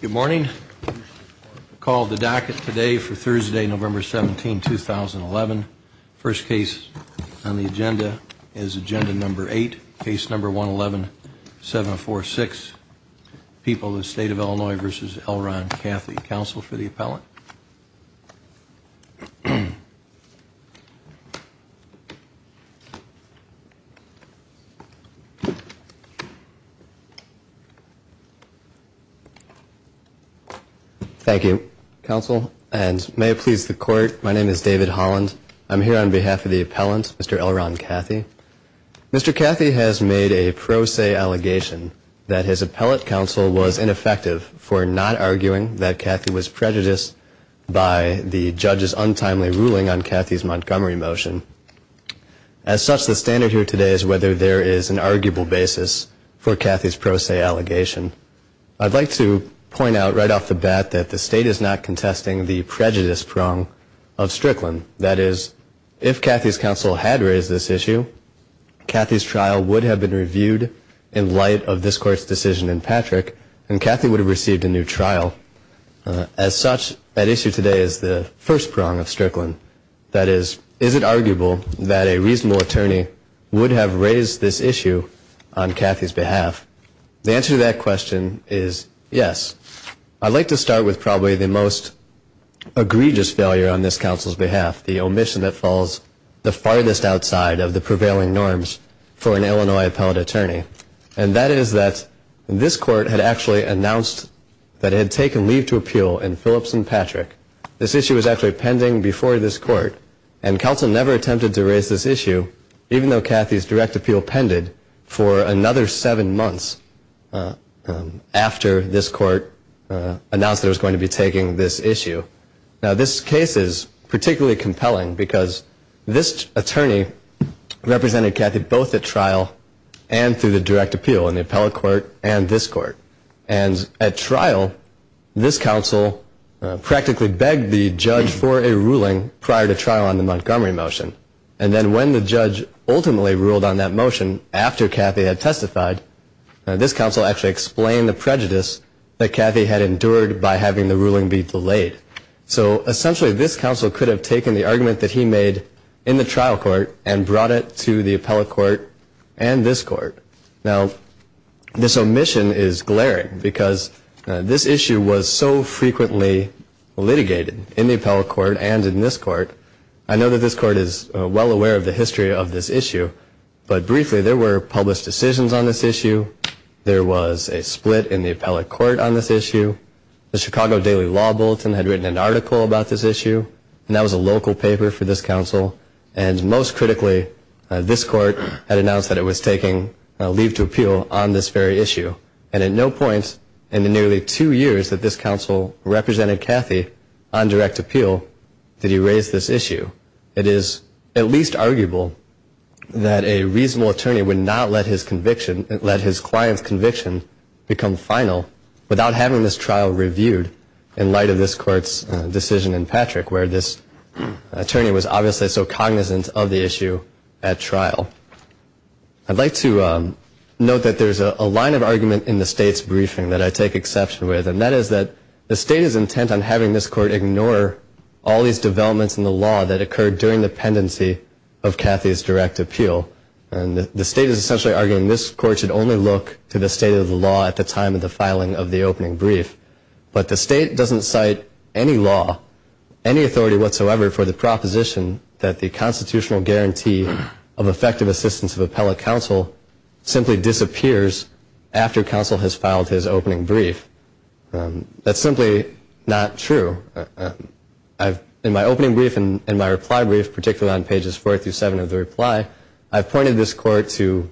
Good morning. Call the docket today for Thursday, November 17, 2011. First case on the agenda is Agenda Number 8, Case Number 111746, People of the State of Illinois v. L. Ron Cathey. Counsel for the appellant. Thank you, Counsel. And may it please the Court, my name is David Holland. I'm here on behalf of the appellant, Mr. L. Ron Cathey. Mr. Cathey has made a pro se allegation that his appellate counsel was ineffective for not arguing that Cathey was prejudiced by the judge's untimely ruling on Cathey's Montgomery motion. As such, the standard here today is whether there is an arguable basis for Cathey's pro se allegation. I'd like to point out right off the bat that the state is not contesting the prejudice prong of Strickland. That is, if Cathey's counsel had raised this issue, Cathey's trial would have been reviewed in light of this court's decision in Patrick, and Cathey would have received a new trial. As such, that issue today is the first prong of Strickland. That is, is it arguable that a reasonable attorney would have raised this issue on Cathey's behalf? The answer to that question is yes. I'd like to start with probably the most egregious failure on this counsel's behalf, the omission that falls the farthest outside of the prevailing norms for an Illinois appellate attorney, and that is that this court had actually announced that it had taken leave to appeal in Phillips and Patrick. This issue was actually pending before this court, and counsel never attempted to raise this issue, even though Cathey's direct appeal pended for another seven months after this court announced that it was going to be taking this issue. Now, this case is particularly compelling because this attorney represented Cathey both at trial and through the direct appeal in the appellate court and this court. And at trial, this counsel practically begged the judge for a ruling prior to trial on the Montgomery motion. And then when the judge ultimately ruled on that motion after Cathey had testified, this counsel actually explained the prejudice that Cathey had endured by having the ruling be delayed. So essentially this counsel could have taken the argument that he made in the trial court and brought it to the appellate court and this court. Now, this omission is glaring because this issue was so frequently litigated in the appellate court and in this court. I know that this court is well aware of the history of this issue, but briefly there were published decisions on this issue. There was a split in the appellate court on this issue. The Chicago Daily Law Bulletin had written an article about this issue, and that was a local paper for this counsel. And most critically, this court had announced that it was taking leave to appeal on this very issue. And at no point in the nearly two years that this counsel represented Cathey on direct appeal did he raise this issue. It is at least arguable that a reasonable attorney would not let his client's conviction become final without having this trial reviewed in light of this court's decision in Patrick, where this attorney was obviously so cognizant of the issue at trial. I'd like to note that there's a line of argument in the state's briefing that I take exception with, and that is that the state is intent on having this court ignore all these developments in the law that occurred during the pendency of Cathey's direct appeal. And the state is essentially arguing this court should only look to the state of the law at the time of the filing of the opening brief. But the state doesn't cite any law, any authority whatsoever for the proposition that the constitutional guarantee of effective assistance of appellate counsel simply disappears after counsel has filed his opening brief. That's simply not true. In my opening brief and my reply brief, particularly on pages four through seven of the reply, I've pointed this court to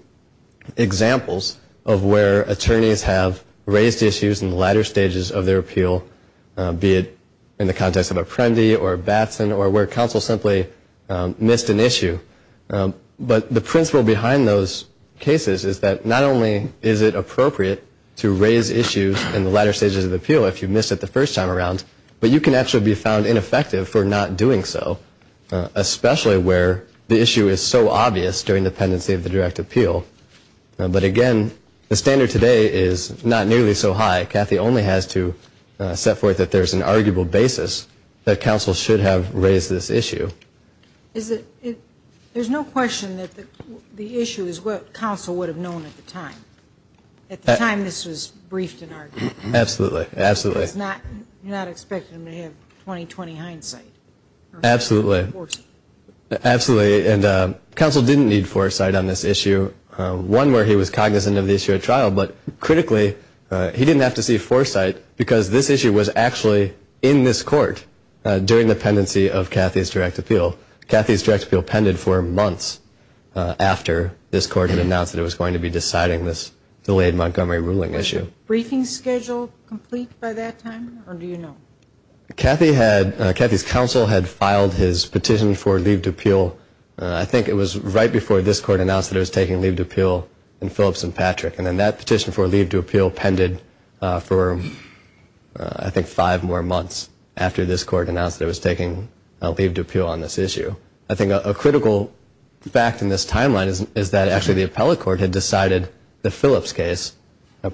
examples of where attorneys have raised issues in the latter stages of their appeal, be it in the context of Apprendi or Batson or where counsel simply missed an issue. But the principle behind those cases is that not only is it appropriate to raise issues in the latter stages of the appeal if you missed it the first time around, but you can actually be found ineffective for not doing so, especially where the issue is so obvious during the pendency of the direct appeal. But again, the standard today is not nearly so high. Cathy only has to set forth that there's an arguable basis that counsel should have raised this issue. There's no question that the issue is what counsel would have known at the time. At the time this was briefed and argued. Absolutely. Absolutely. You're not expecting him to have 20-20 hindsight. Absolutely. Or foresight. Absolutely. And counsel didn't need foresight on this issue. One, where he was cognizant of the issue at trial, but critically, he didn't have to see foresight because this issue was actually in this court during the pendency of Cathy's direct appeal. Cathy's direct appeal pended for months after this court had announced that it was going to be deciding this delayed Montgomery ruling issue. Was the briefing schedule complete by that time, or do you know? Cathy's counsel had filed his petition for leave to appeal, I think it was right before this court announced that it was taking leave to appeal in Phillips and Patrick. And then that petition for leave to appeal pended for, I think, five more months after this court announced that it was taking a leave to appeal on this issue. I think a critical fact in this timeline is that actually the appellate court had decided the Phillips case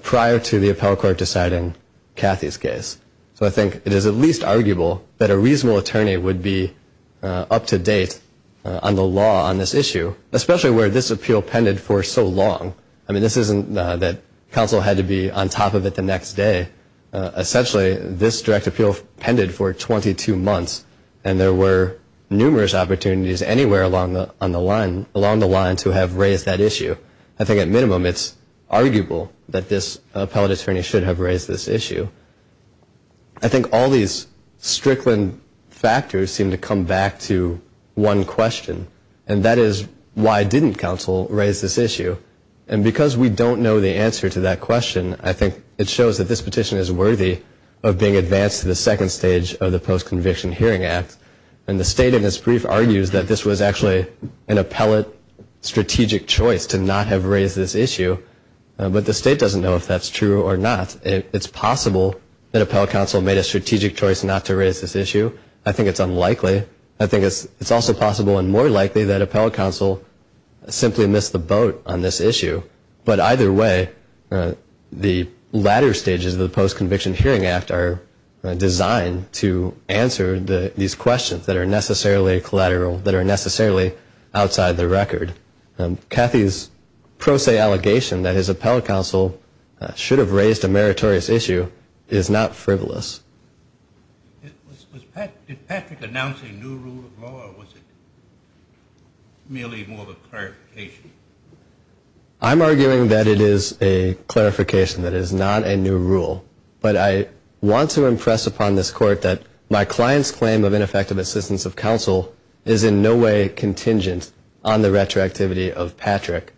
prior to the appellate court deciding Cathy's case. So I think it is at least arguable that a reasonable attorney would be up to date on the law on this issue, especially where this appeal pended for so long. I mean, this isn't that counsel had to be on top of it the next day. Essentially, this direct appeal pended for 22 months, and there were numerous opportunities anywhere along the line to have raised that issue. I think at minimum it's arguable that this appellate attorney should have raised this issue. I think all these Strickland factors seem to come back to one question, and that is why didn't counsel raise this issue? And because we don't know the answer to that question, I think it shows that this petition is worthy of being advanced to the second stage of the Post-Conviction Hearing Act. And the state in its brief argues that this was actually an appellate strategic choice to not have raised this issue, but the state doesn't know if that's true or not. It's possible that appellate counsel made a strategic choice not to raise this issue. I think it's unlikely. I think it's also possible and more likely that appellate counsel simply missed the boat on this issue. But either way, the latter stages of the Post-Conviction Hearing Act are designed to answer these questions that are necessarily collateral, that are necessarily outside the record. Cathy's pro se allegation that his appellate counsel should have raised a meritorious issue is not frivolous. Did Patrick announce a new rule of law, or was it merely more of a clarification? I'm arguing that it is a clarification, that it is not a new rule. But I want to impress upon this Court that my client's claim of ineffective assistance of counsel is in no way contingent on the retroactivity of Patrick.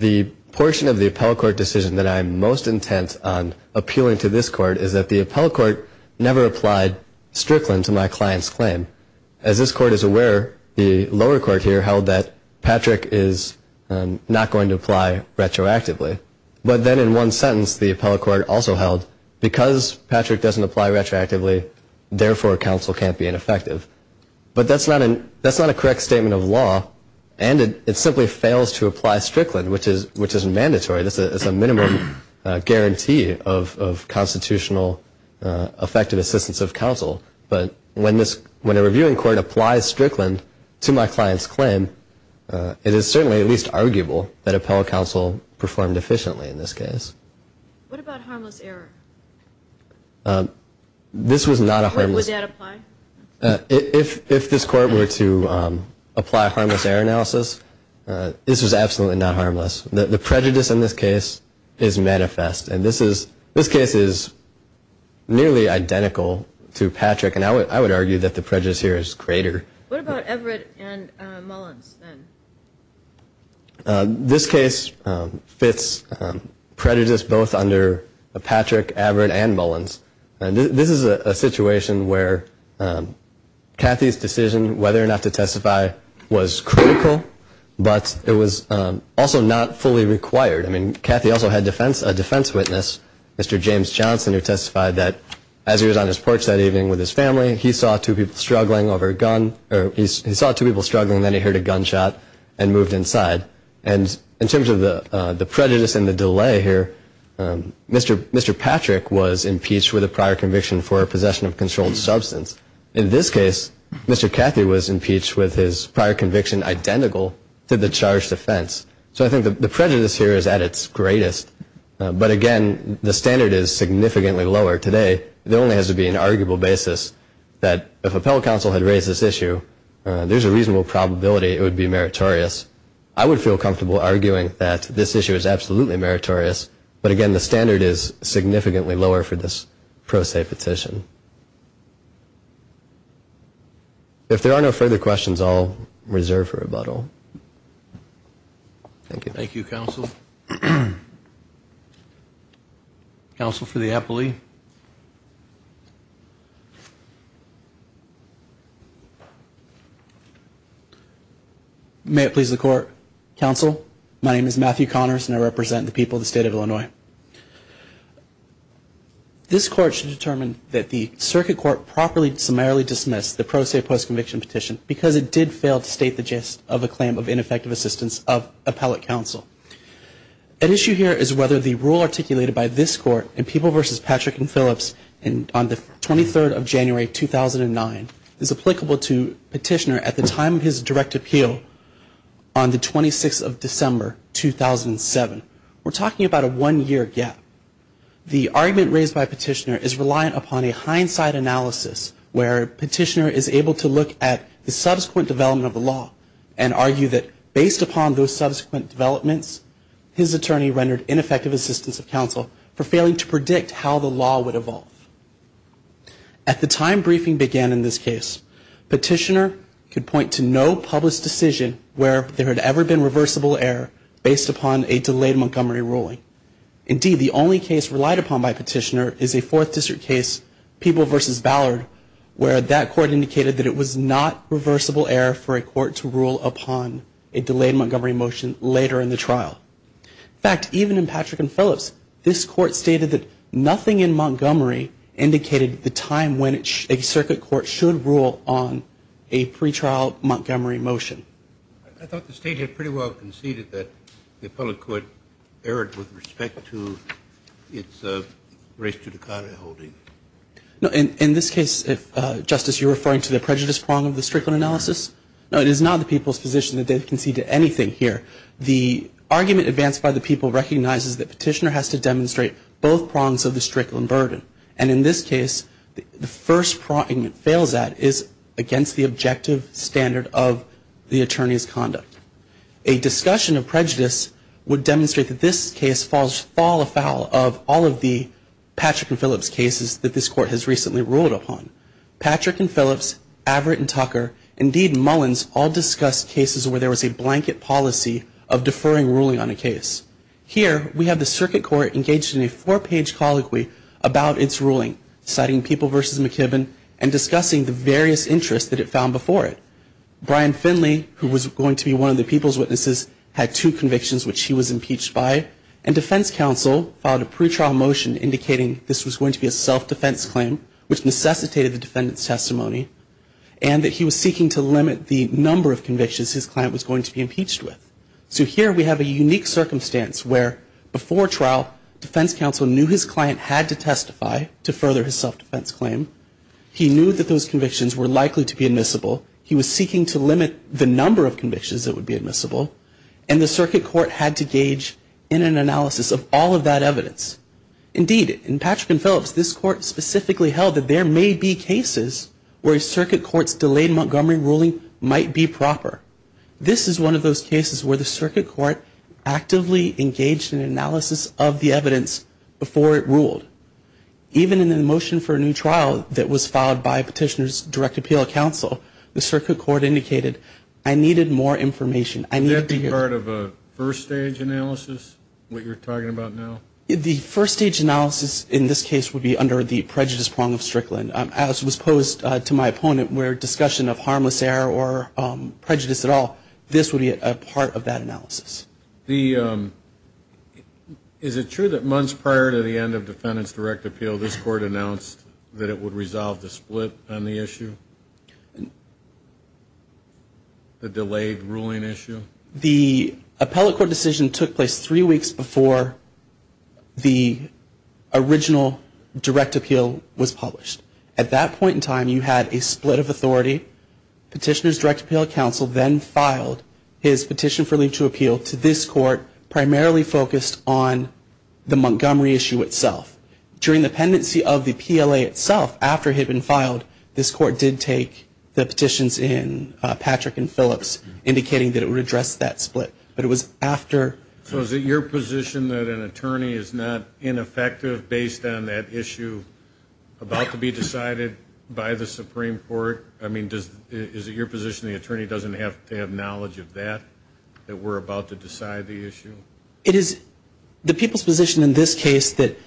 The portion of the appellate court decision that I'm most intent on appealing to this Court is that the appellate court never applied Strickland to my client's claim. As this Court is aware, the lower court here held that Patrick is not going to apply retroactively. But then in one sentence, the appellate court also held, because Patrick doesn't apply retroactively, therefore counsel can't be ineffective. But that's not a correct statement of law, and it simply fails to apply Strickland, which is mandatory. This is a minimum guarantee of constitutional effective assistance of counsel. But when a reviewing court applies Strickland to my client's claim, it is certainly at least arguable that appellate counsel performed efficiently in this case. What about harmless error? This was not a harmless error. Where would that apply? If this Court were to apply harmless error analysis, this was absolutely not harmless. The prejudice in this case is manifest, and this case is nearly identical to Patrick, and I would argue that the prejudice here is greater. What about Everett and Mullins, then? This case fits prejudice both under Patrick, Everett, and Mullins. This is a situation where Cathy's decision whether or not to testify was critical, but it was also not fully required. I mean, Cathy also had a defense witness, Mr. James Johnson, who testified that as he was on his porch that evening with his family, he saw two people struggling, then he heard a gunshot and moved inside. And in terms of the prejudice and the delay here, Mr. Patrick was impeached with a prior conviction for possession of a controlled substance. In this case, Mr. Cathy was impeached with his prior conviction identical to the charged offense. So I think the prejudice here is at its greatest. But, again, the standard is significantly lower today. There only has to be an arguable basis that if appellate counsel had raised this issue, there's a reasonable probability it would be meritorious. I would feel comfortable arguing that this issue is absolutely meritorious, but, again, the standard is significantly lower for this pro se petition. If there are no further questions, I'll reserve for rebuttal. Thank you. Thank you, counsel. Counsel. Counsel for the appellee. May it please the court. Counsel, my name is Matthew Connors and I represent the people of the state of Illinois. This court should determine that the circuit court properly and summarily dismissed the pro se post-conviction petition because it did fail to state the gist of a claim of ineffective assistance of appellate counsel. An issue here is whether the rule articulated by this court in People v. Patrick and Phillips on the 23rd of January 2009 is applicable to Petitioner at the time of his direct appeal on the 26th of December 2007. We're talking about a one-year gap. The argument raised by Petitioner is reliant upon a hindsight analysis where Petitioner is able to look at the subsequent development of the law and argue that based upon those subsequent developments, his attorney rendered ineffective assistance of counsel for failing to predict how the law would evolve. At the time briefing began in this case, Petitioner could point to no published decision where there had ever been reversible error based upon a delayed Montgomery ruling. Indeed, the only case relied upon by Petitioner is a Fourth District case, People v. Ballard, where that court indicated that it was not reversible error for a court to rule upon a delayed Montgomery motion later in the trial. In fact, even in Patrick and Phillips, this court stated that nothing in Montgomery indicated the time when a circuit court should rule on a pretrial Montgomery motion. I thought the State had pretty well conceded that the appellate court erred with respect to its race to the cotta holding. No, in this case, Justice, you're referring to the prejudice prong of the Strickland analysis? No, it is not the people's position that they've conceded anything here. The argument advanced by the people recognizes that Petitioner has to demonstrate both prongs of the Strickland burden. And in this case, the first prong it fails at is against the objective standard of the attorney's conduct. A discussion of prejudice would demonstrate that this case falls fall afoul of all of the Patrick and Phillips cases that this court has recently ruled upon. Patrick and Phillips, Averitt and Tucker, indeed Mullins all discussed cases where there was a blanket policy of deferring ruling on a case. Here, we have the circuit court engaged in a four-page colloquy about its ruling, citing People v. McKibbin and discussing the various interests that it found before it. Brian Finley, who was going to be one of the people's witnesses, had two convictions which he was impeached by. And defense counsel filed a pretrial motion indicating this was going to be a self-defense claim, which necessitated the defendant's testimony, and that he was seeking to limit the number of convictions his client was going to be impeached with. So here we have a unique circumstance where before trial, defense counsel knew his client had to testify to further his self-defense claim. He knew that those convictions were likely to be admissible. He was seeking to limit the number of convictions that would be admissible. And the circuit court had to gauge in an analysis of all of that evidence. Indeed, in Patrick and Phillips, this court specifically held that there may be cases where a circuit court's delayed Montgomery ruling might be proper. This is one of those cases where the circuit court actively engaged in analysis of the evidence before it ruled. Even in the motion for a new trial that was filed by Petitioner's Direct Appeal Counsel, the circuit court indicated, I needed more information. I needed to hear. Would that be part of a first-stage analysis, what you're talking about now? The first-stage analysis in this case would be under the prejudice prong of Strickland. As was posed to my opponent, where discussion of harmless error or prejudice at all, this would be a part of that analysis. Is it true that months prior to the end of defendant's direct appeal, this court announced that it would resolve the split on the issue? The delayed ruling issue? The appellate court decision took place three weeks before the original direct appeal was published. At that point in time, you had a split of authority. Petitioner's Direct Appeal Counsel then filed his petition for leave to appeal to this court, primarily focused on the Montgomery issue itself. During the pendency of the PLA itself, after it had been filed, this court did take the petitions in Patrick and Phillips, indicating that it would address the issue. So is it your position that an attorney is not ineffective based on that issue about to be decided by the Supreme Court? I mean, is it your position the attorney doesn't have to have knowledge of that, that we're about to decide the issue? It is the people's position in this case that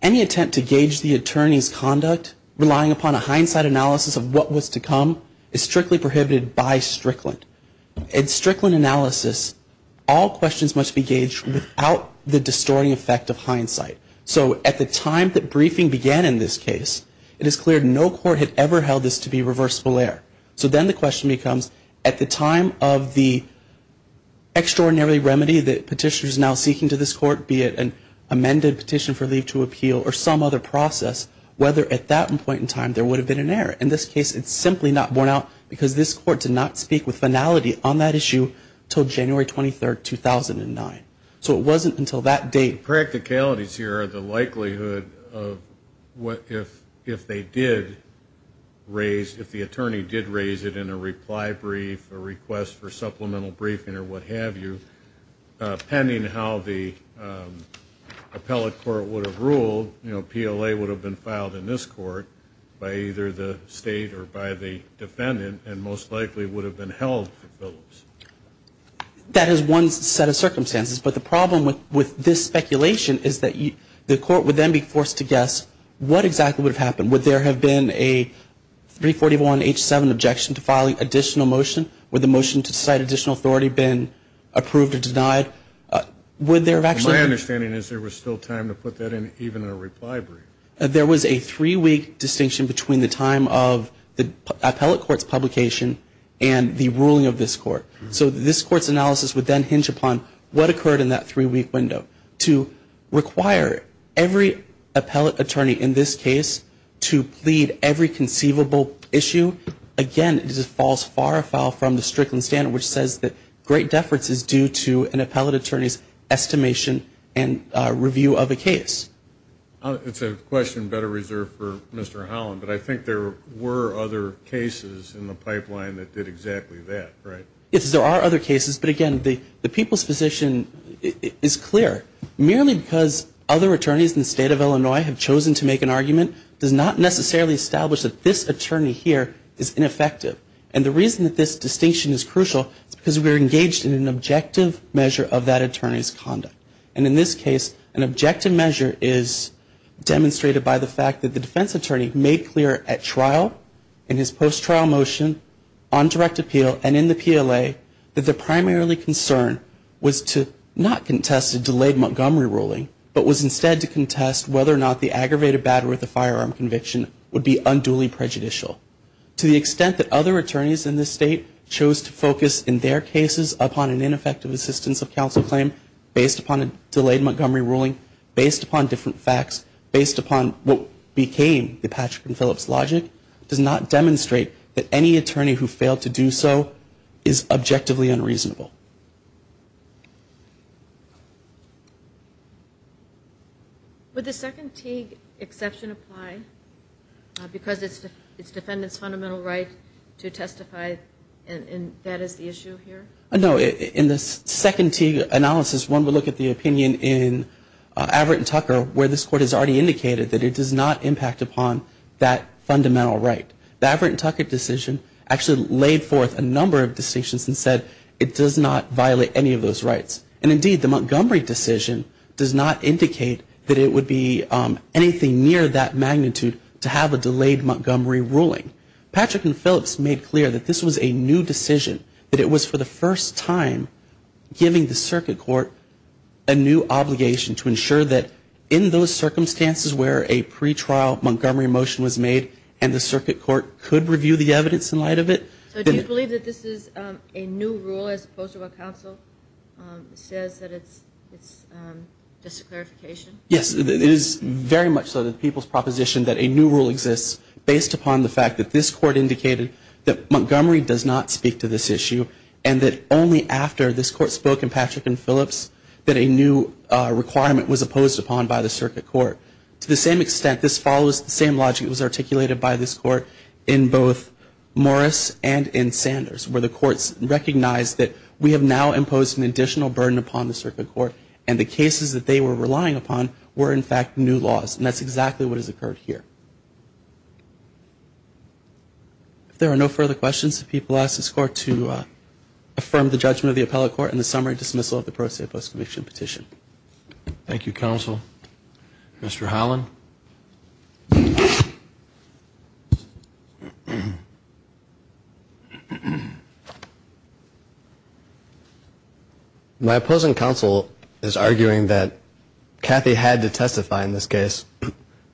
any attempt to gauge the attorney's conduct, relying upon a hindsight analysis of what was to come, is strictly prohibited by Strickland. In Strickland analysis, all questions must be gauged without the distorting effect of hindsight. So at the time that briefing began in this case, it is clear no court had ever held this to be reversible error. So then the question becomes, at the time of the extraordinary remedy that petitioner is now seeking to this court, be it an amended petition for leave to appeal or some other process, whether at that point in time there would have been an error. In this case, it's simply not borne out because this court did not speak with finality on that issue until January 23, 2009. So it wasn't until that date. Practicalities here are the likelihood of what if they did raise, if the attorney did raise it in a reply brief, a request for supplemental briefing or what have you, pending how the appellate court would have ruled. It's the likelihood of what if they did raise it in a reply brief, a request for supplemental briefing or what have you, pending how the appellate court would have ruled. And so, you know, PLA would have been filed in this court by either the state or by the defendant, and most likely would have been held for Phillips. That is one set of circumstances. But the problem with this speculation is that the court would then be forced to guess what exactly would have happened. There was a three-week distinction between the time of the appellate court's publication and the ruling of this court. So this court's analysis would then hinge upon what occurred in that three-week window. To require every appellate attorney in this case to plead every conceivable issue, again, this falls far afoul from the Strickland standard, which says that great deference is due to an appellate attorney's estimation and review of a case. It's a question better reserved for Mr. Holland, but I think there were other cases in the pipeline that did exactly that, right? Yes, there are other cases, but again, the people's position is clear. Merely because other attorneys in the state of Illinois have chosen to make an argument does not necessarily establish that this attorney here is ineffective. And the reason that this distinction is crucial is because we're engaged in an objective measure of that attorney's conduct. And in this case, an objective measure is demonstrated by the fact that the defense attorney made clear at trial, in his post-trial motion, on direct appeal, and in the PLA, that the primarily concern was to not contest a delayed Montgomery ruling, but was instead to contest whether or not the aggravated battery of the firearm conviction would be unduly prejudicial. Because other attorneys in this state chose to focus, in their cases, upon an ineffective assistance of counsel claim, based upon a delayed Montgomery ruling, based upon different facts, based upon what became the Patrick and Phillips logic, does not demonstrate that any attorney who failed to do so is objectively unreasonable. Would the second Teague exception apply, because it's defendant's fundamental right to testify, and that is the issue here? No. In the second Teague analysis, one would look at the opinion in Averitt and Tucker, where this Court has already indicated that it does not impact upon that fundamental right. The Averitt and Tucker decision actually laid forth a number of distinctions and said it does not impact upon that fundamental right. It does not violate any of those rights. And indeed, the Montgomery decision does not indicate that it would be anything near that magnitude to have a delayed Montgomery ruling. Patrick and Phillips made clear that this was a new decision, that it was for the first time giving the circuit court a new obligation to ensure that in those circumstances where a pretrial Montgomery motion was made, and the circuit court could review the new rule, that the circuit court could review the new rule. Yes. It is very much so that people's proposition that a new rule exists based upon the fact that this Court indicated that Montgomery does not speak to this issue, and that only after this Court spoke in Patrick and Phillips that a new requirement was opposed upon by the circuit court. To the same point, the circuit court could have now imposed an additional burden upon the circuit court, and the cases that they were relying upon were in fact new laws, and that's exactly what has occurred here. If there are no further questions, the people ask this Court to affirm the judgment of the appellate court and the summary dismissal of the pro se post-conviction petition. Thank you, Counsel. Mr. Holland. My opposing counsel is arguing that Cathy had to testify in this case.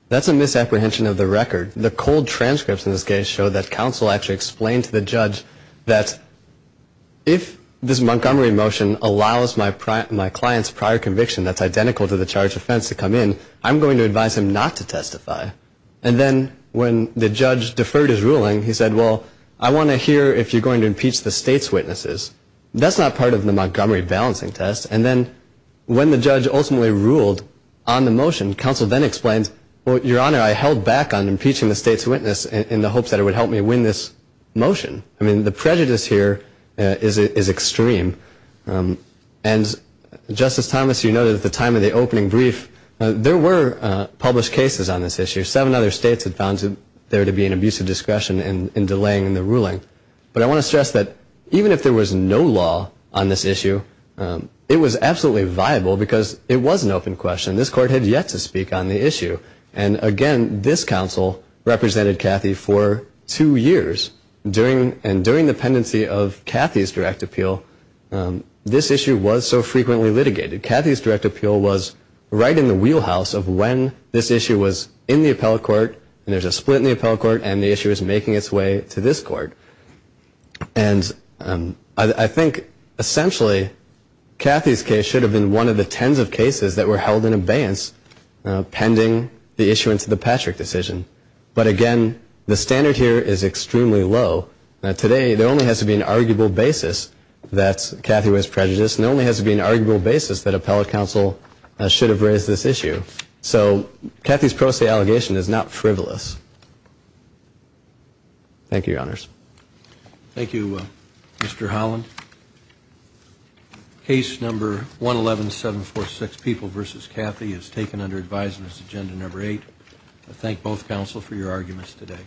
That's a misapprehension of the record. The cold transcripts in this case show that counsel actually explained to the judge that if this Montgomery motion allows my client's prior conviction that's identical to the charge of offense to come in, I'm going to advise him not to testify. And then when the judge deferred his ruling, he said, well, I want to hear if you're going to impeach the state's witnesses. That's not part of the Montgomery balancing test. And then when the judge ultimately ruled on the motion, counsel then explained, well, Your Honor, I held back on impeaching the state's witness in the hopes that it would help me win this motion. I mean, the prejudice here is extreme. And, Justice Thomas, you noted at the time of the opening brief, there were published cases on this issue. Seven other states had found there to be an abuse of discretion in delaying the ruling. But I want to stress that even if there was no law on this issue, it was absolutely viable because it was an open question. This court had yet to speak on the issue. And, again, this counsel represented Cathy for two years. And during the pendency of Cathy's direct appeal, this issue was so frequently litigated. Cathy's direct appeal was right in the wheelhouse of when this issue was in the appellate court, and when the issue was making its way to this court. And I think, essentially, Cathy's case should have been one of the tens of cases that were held in abeyance pending the issuance of the Patrick decision. But, again, the standard here is extremely low. Today, there only has to be an arguable basis that Cathy was prejudiced, and there only has to be an arguable basis that appellate counsel should have raised this issue. So Cathy's pro se allegation is not frivolous. Thank you, Your Honors. Thank you, Mr. Holland. Case number 111746, People v. Cathy, is taken under advisement as agenda number 8. I thank both counsel for your arguments today.